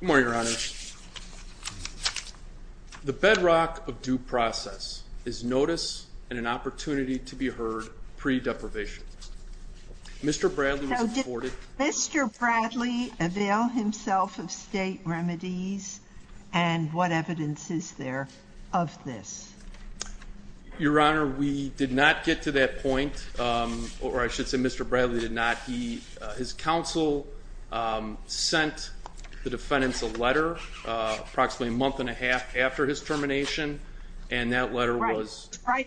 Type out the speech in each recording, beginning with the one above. Good morning, Your Honor. The bedrock of due process is notice and an opportunity to be heard pre-deprivation. Mr. Bradley was aborted. Did Mr. Bradley avail himself of state remedies and what evidence is there of this? Your Honor, we did not get to that point, or I should say Mr. Bradley did not. His counsel sent the defendants a letter approximately a month and a half after his termination and that letter was Was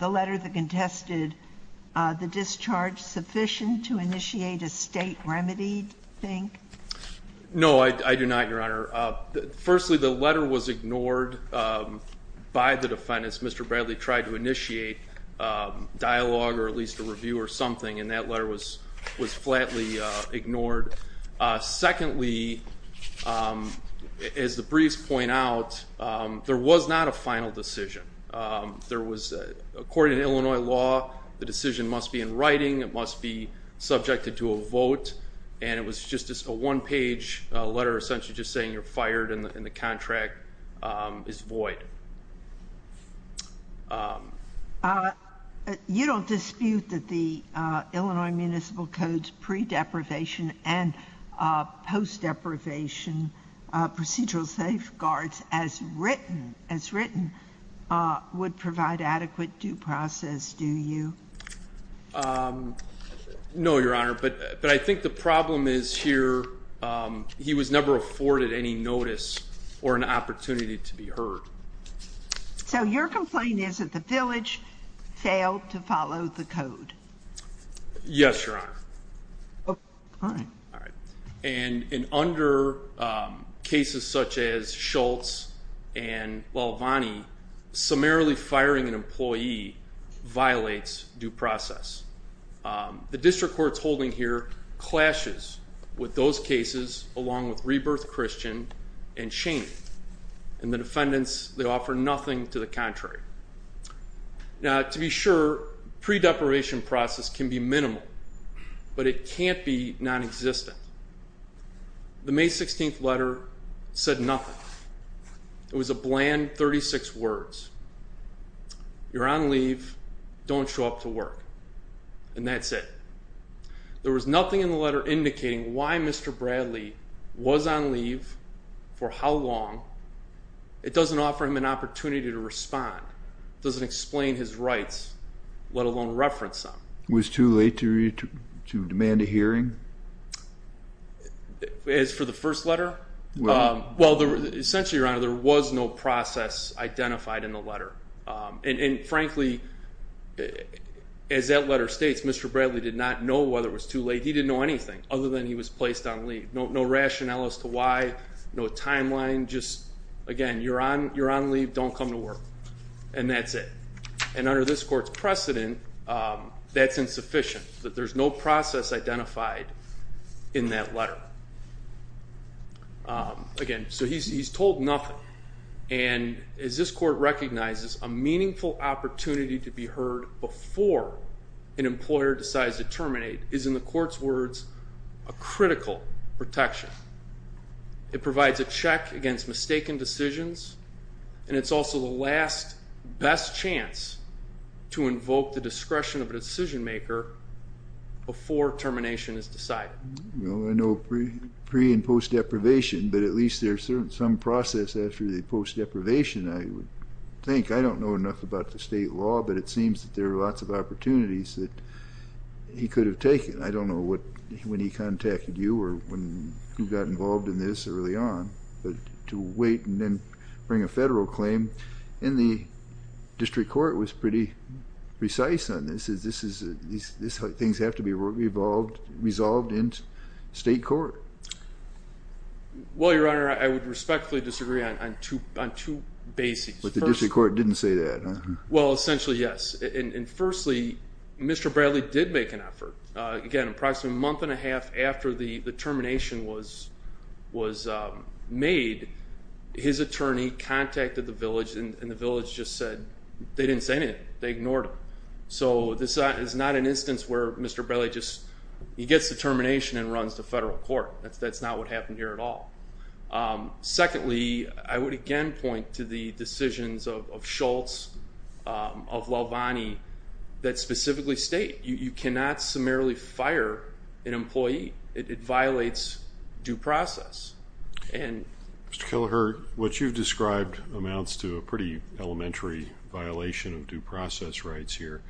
the letter that contested the discharge sufficient to initiate a state remedy, you think? No, I do not, Your Honor. Firstly, the letter was ignored by the defendants. Mr. Bradley tried to initiate dialogue or at least a review or something and that letter was flatly ignored. Secondly, as the briefs point out, there was not a final decision. According to Illinois law, the decision must be in writing, it must be subjected to a vote, and it was just a one-page letter essentially just saying you're fired and the contract is void. You don't dispute that the Illinois Municipal Code's pre-deprivation and post-deprivation procedural safeguards as written would provide adequate due process, do you? No, Your Honor, but I think the problem is here he was never afforded any notice or an opportunity to be heard. So your complaint is that the village failed to follow the code? Yes, Your Honor. And under cases such as Schultz and Lalvani, summarily firing an employee violates due process. The district court's holding here clashes with those cases along with Rebirth Christian and Chaney. And the defendants, they offer nothing to the contrary. Now to be sure, pre-deprivation process can be minimal, but it can't be non-existent. The May 16th letter said nothing. It was a bland 36 words. You're on leave, don't show up to work. And that's it. There was nothing in the letter indicating why Mr. Bradley was on leave, for how long. It doesn't offer him an opportunity to respond. It doesn't explain his rights, let alone reference them. Was it too late to demand a hearing? As for the first letter, well essentially, Your Honor, there was no process identified in the letter. And frankly, as that letter states, Mr. Bradley did not know whether it was too late. He didn't know anything other than he was placed on leave. No rationale as to why, no timeline, just again, you're on leave, don't come to work. And that's it. And under this court's precedent, that's insufficient, that there's no process identified in that letter. Again, so he's told nothing. And as this court recognizes, a meaningful opportunity to be heard before an employer decides to terminate is, in the court's words, a critical protection. It provides a check against mistaken decisions, and it's also the last, best chance to invoke the discretion of a decision maker before termination is decided. Well, I know pre- and post-deprivation, but at least there's some process after the post-deprivation, I would think. I don't know enough about the state law, but it seems that there are lots of opportunities that he could have taken. I don't know when he contacted you or who got involved in this early on. But to wait and then bring a federal claim in the district court was pretty precise on this. Things have to be resolved in state court. Well, Your Honor, I would respectfully disagree on two bases. But the district court didn't say that, huh? Well, essentially, yes. And firstly, Mr. Bradley did make an effort. Again, approximately a month and a half after the termination was made, his attorney contacted the village, and the village just said they didn't say anything. They ignored him. So this is not an instance where Mr. Bradley just gets the termination and runs to federal court. That's not what happened here at all. Secondly, I would again point to the decisions of Schultz, of Lalvani, that specifically state you cannot summarily fire an employee. It violates due process. Mr. Killeher, what you've described amounts to a pretty elementary violation of due process rights here,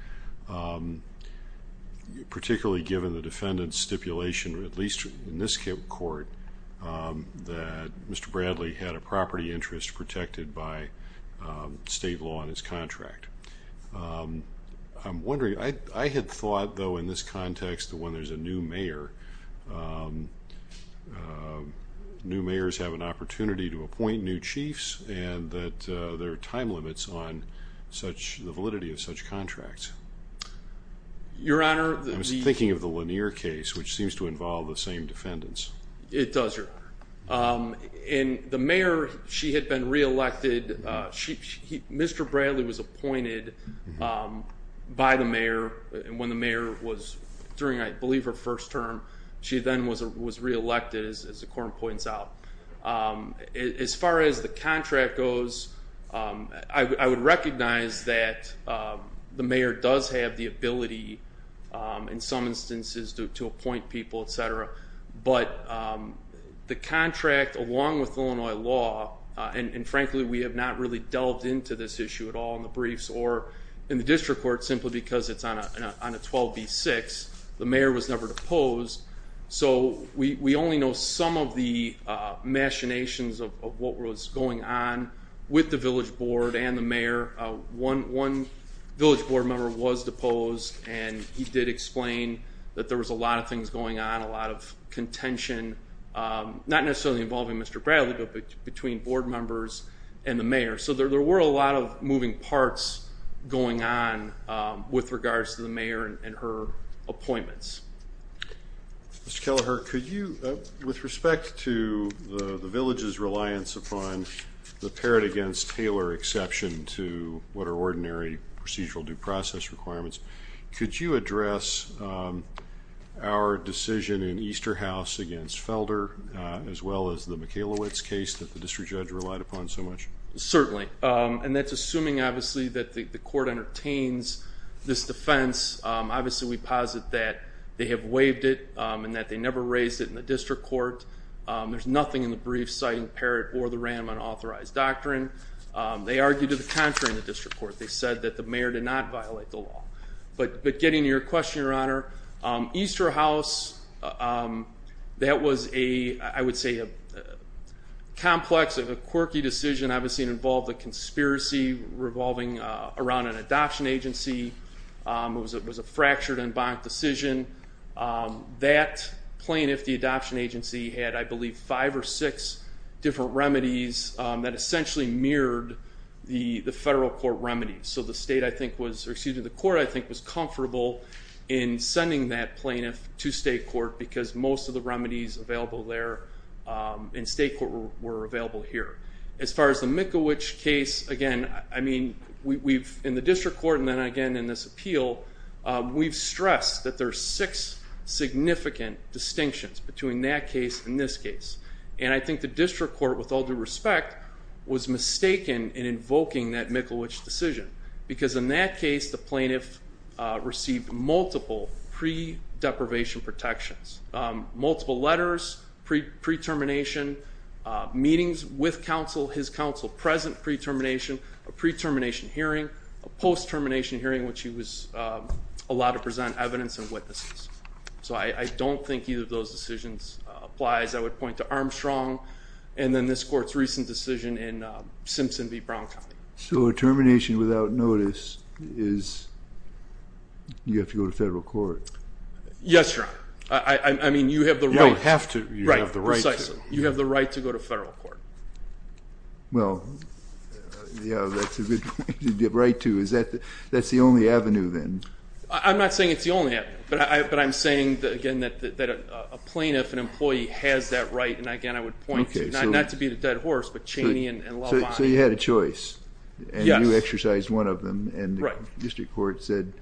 particularly given the defendant's stipulation, at least in this court, that Mr. Bradley had a property interest protected by state law in his contract. I'm wondering, I had thought, though, in this context that when there's a new mayor, new mayors have an opportunity to appoint new chiefs, and that there are time limits on the validity of such contracts. Your Honor, the... I was thinking of the Lanier case, which seems to involve the same defendants. It does, Your Honor. And the mayor, she had been reelected. Mr. Bradley was appointed by the mayor, and when the mayor was, during I believe her first term, she then was reelected, as the court points out. As far as the contract goes, I would recognize that the mayor does have the ability, in some instances, to appoint people, etc. But the contract, along with Illinois law, and frankly we have not really delved into this issue at all in the briefs or in the district court, simply because it's on a 12b-6. The mayor was never deposed, so we only know some of the machinations of what was going on with the village board and the mayor. One village board member was deposed, and he did explain that there was a lot of things going on, a lot of contention, not necessarily involving Mr. Bradley, but between board members and the mayor. So there were a lot of moving parts going on with regards to the mayor and her appointments. Mr. Kelleher, could you, with respect to the village's reliance upon the Parrott against Taylor exception to what are ordinary procedural due process requirements, could you address our decision in Easterhouse against Felder, as well as the Michalowicz case that the district judge relied upon so much? Certainly. And that's assuming, obviously, that the court entertains this defense. Obviously, we posit that they have waived it and that they never raised it in the district court. There's nothing in the briefs citing Parrott or the RAM unauthorized doctrine. They argued to the contrary in the district court. They said that the mayor did not violate the law. But getting to your question, Your Honor, Easterhouse, that was, I would say, a complex, a quirky decision. Obviously, it involved a conspiracy revolving around an adoption agency. It was a fractured and bonked decision. That plaintiff, the adoption agency, had, I believe, five or six different remedies that essentially mirrored the federal court remedies. So the state, I think, was, or excuse me, the court, I think, was comfortable in sending that plaintiff to state court because most of the remedies available there in state court were available here. As far as the Michalowicz case, again, I mean, we've, in the district court and then again in this appeal, we've stressed that there are six significant distinctions between that case and this case. And I think the district court, with all due respect, was mistaken in invoking that Michalowicz decision. Because in that case, the plaintiff received multiple pre-deprivation protections. Multiple letters, pre-termination meetings with counsel, his counsel, present pre-termination, a pre-termination hearing, a post-termination hearing in which he was allowed to present evidence and witnesses. So I don't think either of those decisions applies. I would point to Armstrong and then this court's recent decision in Simpson v. Brown County. So a termination without notice is you have to go to federal court. Yes, Your Honor. I mean, you have the right. You don't have to. Right, precisely. You have the right to go to federal court. Well, yeah, that's a good point. The right to. That's the only avenue then. I'm not saying it's the only avenue. But I'm saying, again, that a plaintiff, an employee, has that right. And, again, I would point to, not to beat a dead horse, but Chaney and LaVon. So you had a choice. Yes. And you exercised one of them. Right. And the district court said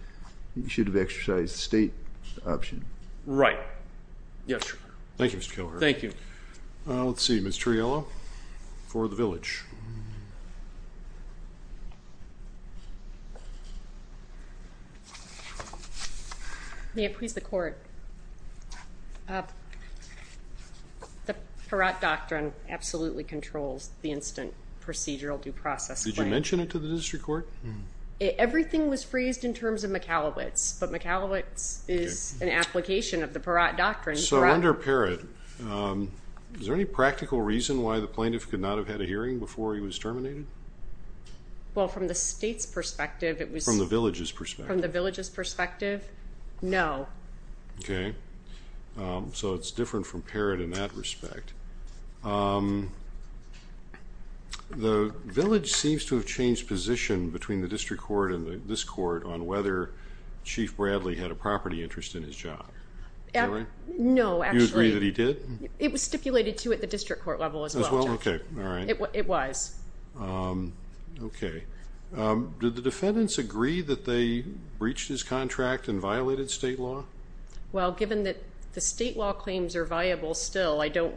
you should have exercised the state option. Right. Yes, Your Honor. Thank you, Mr. Kilher. Thank you. Let's see. Ms. Triello for the village. May it please the court. The Peratt Doctrine absolutely controls the instant procedural due process claim. Did you mention it to the district court? Everything was phrased in terms of McAlowitz, but McAlowitz is an application of the Peratt Doctrine. So under Peratt, is there any practical reason why the plaintiff could not have had a hearing before he was terminated? Well, from the state's perspective, it was. From the village's perspective. From the village's perspective, no. Okay. So it's different from Peratt in that respect. The village seems to have changed position between the district court and this court on whether Chief Bradley had a property interest in his job. Is that right? No, actually. Do you agree that he did? It was stipulated, too, at the district court level as well. As well? Okay. All right. It was. Okay. Did the defendants agree that they breached his contract and violated state law? Well, given that the state law claims are viable still, I don't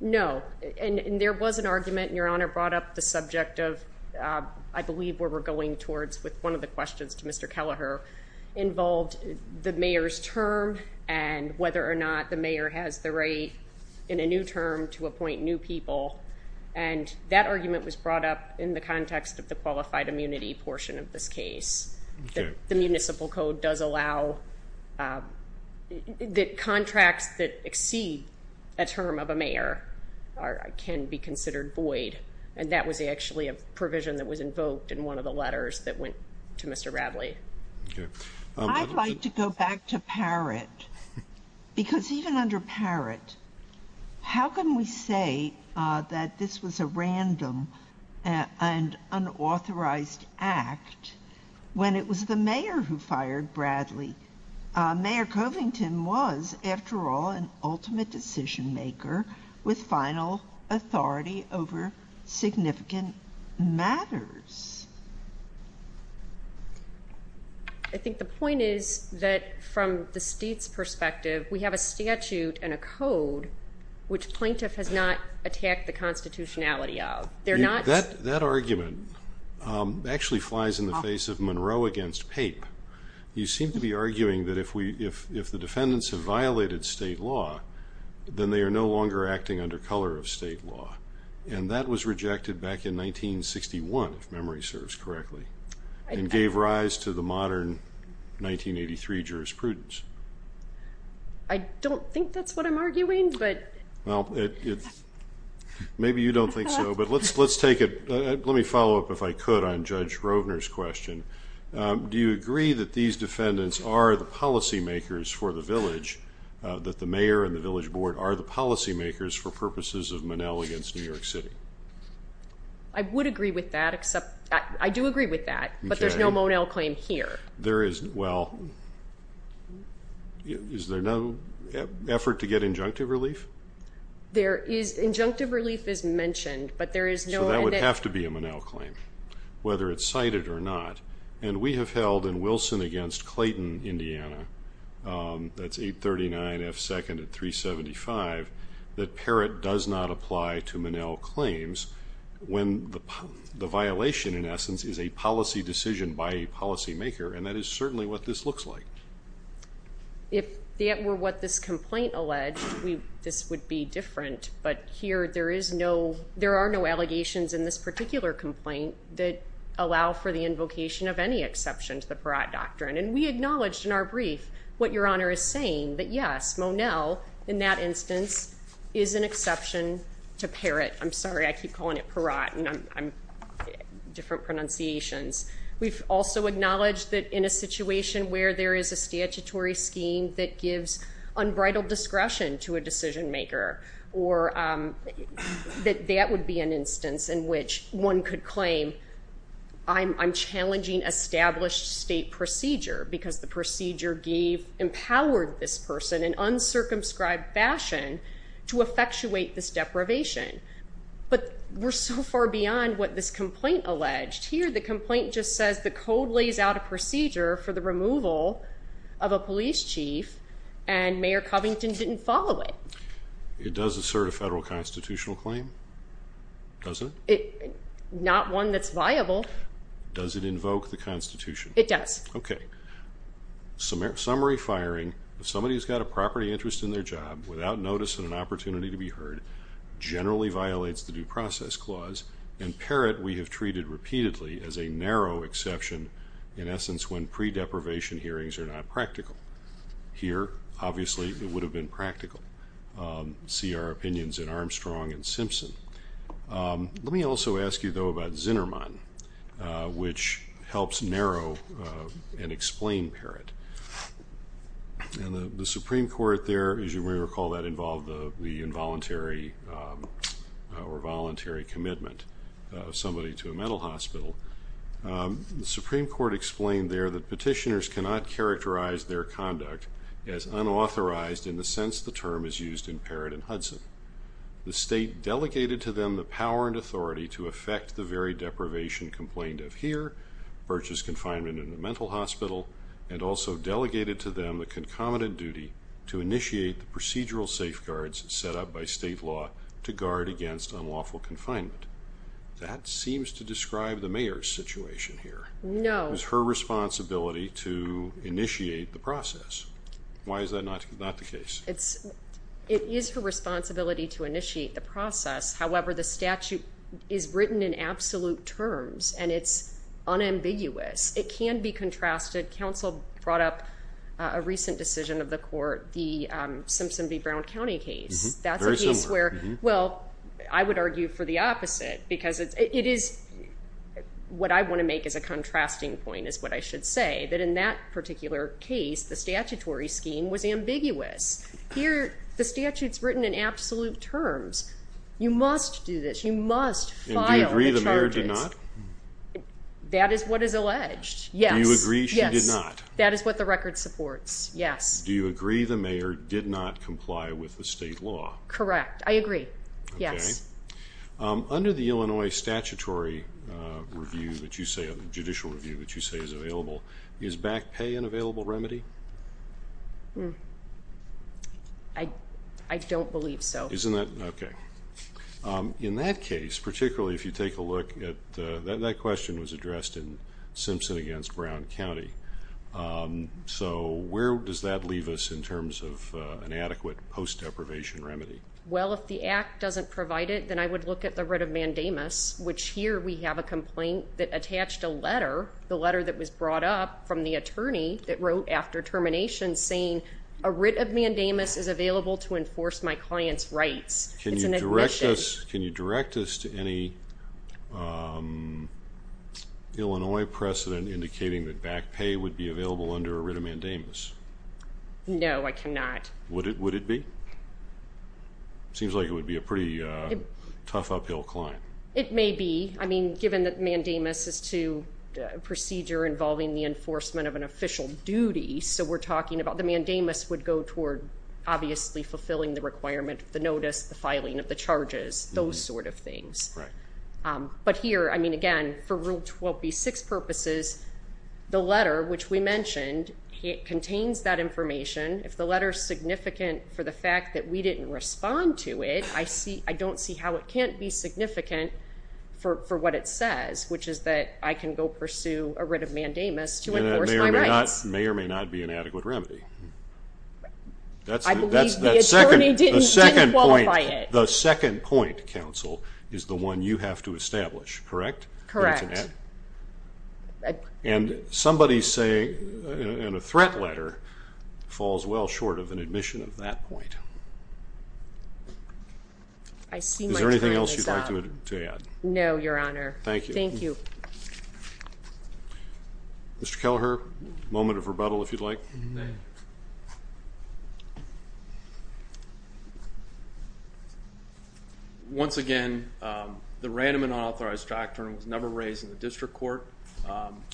know. And there was an argument, and Your Honor brought up the subject of, I believe where we're going towards with one of the questions to Mr. Kelleher, involved the mayor's term and whether or not the mayor has the right in a new term to appoint new people. And that argument was brought up in the context of the qualified immunity portion of this case. The municipal code does allow that contracts that exceed a term of a mayor can be considered void. And that was actually a provision that was invoked in one of the letters that went to Mr. Bradley. Okay. I'd like to go back to Peratt because even under Peratt, how can we say that this was a random and unauthorized act when it was the mayor who fired Bradley? Mayor Covington was, after all, an ultimate decision maker with final authority over significant matters. I think the point is that from the state's perspective, we have a statute and a code which plaintiff has not attacked the constitutionality of. That argument actually flies in the face of Monroe against Pape. You seem to be arguing that if the defendants have violated state law, then they are no longer acting under color of state law. And that was rejected back in 1961, if memory serves correctly, and gave rise to the modern 1983 jurisprudence. I don't think that's what I'm arguing, but. Well, maybe you don't think so, but let's take it. Let me follow up, if I could, on Judge Rovner's question. Do you agree that these defendants are the policy makers for the village, that the mayor and the village board are the policy makers for purposes of Monell against New York City? I would agree with that, except I do agree with that, but there's no Monell claim here. There is, well, is there no effort to get injunctive relief? Injunctive relief is mentioned, but there is no evidence. So that would have to be a Monell claim, whether it's cited or not. And we have held in Wilson against Clayton, Indiana, that's 839 F. 2nd at 375, that Parrott does not apply to Monell claims when the And that is certainly what this looks like. If that were what this complaint alleged, this would be different, but here there are no allegations in this particular complaint that allow for the invocation of any exception to the Parrott Doctrine. And we acknowledged in our brief what Your Honor is saying, that, yes, Monell, in that instance, is an exception to Parrott. I'm sorry, I keep calling it Parrott, and I'm different pronunciations. We've also acknowledged that in a situation where there is a statutory scheme that gives unbridled discretion to a decision maker, or that that would be an instance in which one could claim, I'm challenging established state procedure, because the procedure gave empowered this person in uncircumscribed fashion to effectuate this deprivation. But we're so far beyond what this complaint alleged. Here the complaint just says the code lays out a procedure for the removal of a police chief, and Mayor Covington didn't follow it. It does assert a federal constitutional claim, does it? Not one that's viable. Does it invoke the Constitution? It does. Okay. Summary firing of somebody who's got a property interest in their job without notice and an opportunity to be heard generally violates the Due Process Clause, and Parrott we have treated repeatedly as a narrow exception, in essence, when pre-deprivation hearings are not practical. Here, obviously, it would have been practical. See our opinions in Armstrong and Simpson. Let me also ask you, though, about Zinnerman, which helps narrow and explain Parrott. The Supreme Court there, as you may recall, that involved the involuntary or voluntary commitment of somebody to a mental hospital. The Supreme Court explained there that petitioners cannot characterize their conduct as unauthorized in the sense the term is used in Parrott and Hudson. The state delegated to them the power and authority to effect the very deprivation complained of here, Birch's confinement in a mental hospital, and also delegated to them the concomitant duty to initiate the procedural safeguards set up by state law to guard against unlawful confinement. That seems to describe the mayor's situation here. No. It was her responsibility to initiate the process. Why is that not the case? It is her responsibility to initiate the process. However, the statute is written in absolute terms, and it's unambiguous. It can be contrasted. The council brought up a recent decision of the court, the Simpson v. Brown County case. That's a case where, well, I would argue for the opposite, because it is what I want to make as a contrasting point, is what I should say, that in that particular case, the statutory scheme was ambiguous. Here the statute is written in absolute terms. You must do this. You must file the charges. And do you agree the mayor did not? That is what is alleged, yes. Do you agree she did not? That is what the record supports, yes. Do you agree the mayor did not comply with the state law? Correct. I agree, yes. Under the Illinois statutory review, the judicial review that you say is available, is back pay an available remedy? I don't believe so. Okay. In that case, particularly if you take a look at that question that was addressed in Simpson v. Brown County. So where does that leave us in terms of an adequate post-deprivation remedy? Well, if the act doesn't provide it, then I would look at the writ of mandamus, which here we have a complaint that attached a letter, the letter that was brought up from the attorney that wrote after termination saying, a writ of mandamus is available to enforce my client's rights. It's an admission. Can you direct us to any Illinois precedent indicating that back pay would be available under a writ of mandamus? No, I cannot. Would it be? Seems like it would be a pretty tough uphill climb. It may be. I mean, given that mandamus is to a procedure involving the enforcement of an official duty, so we're talking about the mandamus would go toward obviously fulfilling the requirement of the notice, the filing of the charges, those sort of things. But here, I mean, again, for Rule 12b-6 purposes, the letter, which we mentioned, contains that information. If the letter is significant for the fact that we didn't respond to it, I don't see how it can't be significant for what it says, which is that I can go pursue a writ of mandamus to enforce my rights. And that may or may not be an adequate remedy. I believe the attorney didn't qualify it. The second point, counsel, is the one you have to establish, correct? Correct. And somebody saying in a threat letter falls well short of an admission of that point. Is there anything else you'd like to add? No, Your Honor. Thank you. Thank you. Mr. Kelleher, moment of rebuttal if you'd like. Thank you. Once again, the random and unauthorized doctrine was never raised in the district court.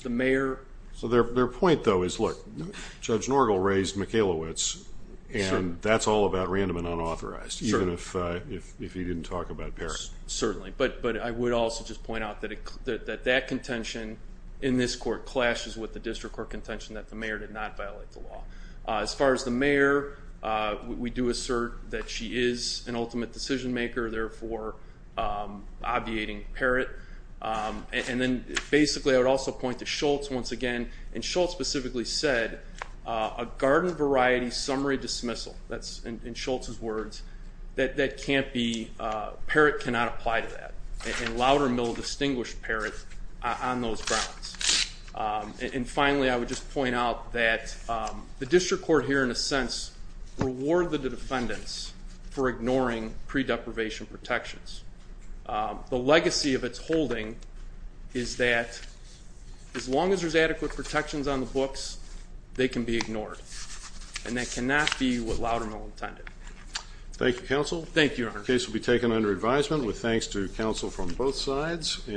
The mayor. So their point, though, is, look, Judge Norgel raised Michalowicz, and that's all about random and unauthorized, even if he didn't talk about Parrott. Certainly. But I would also just point out that that contention in this court clashes with the district court contention that the mayor did not violate the law. As far as the mayor, we do assert that she is an ultimate decision maker, therefore obviating Parrott. And then basically I would also point to Schultz once again, and Schultz specifically said a garden variety summary dismissal, that's in Schultz's words, that can't be, Parrott cannot apply to that. And Laudermill distinguished Parrott on those grounds. And finally, I would just point out that the district court here in a sense reward the defendants for ignoring pre deprivation protections. The legacy of its holding is that as long as there's adequate protections on the books, they can be ignored. And that cannot be what Laudermill intended. Thank you, counsel. Thank you, Your Honor. The case will be taken under advisement with thanks to counsel from both sides.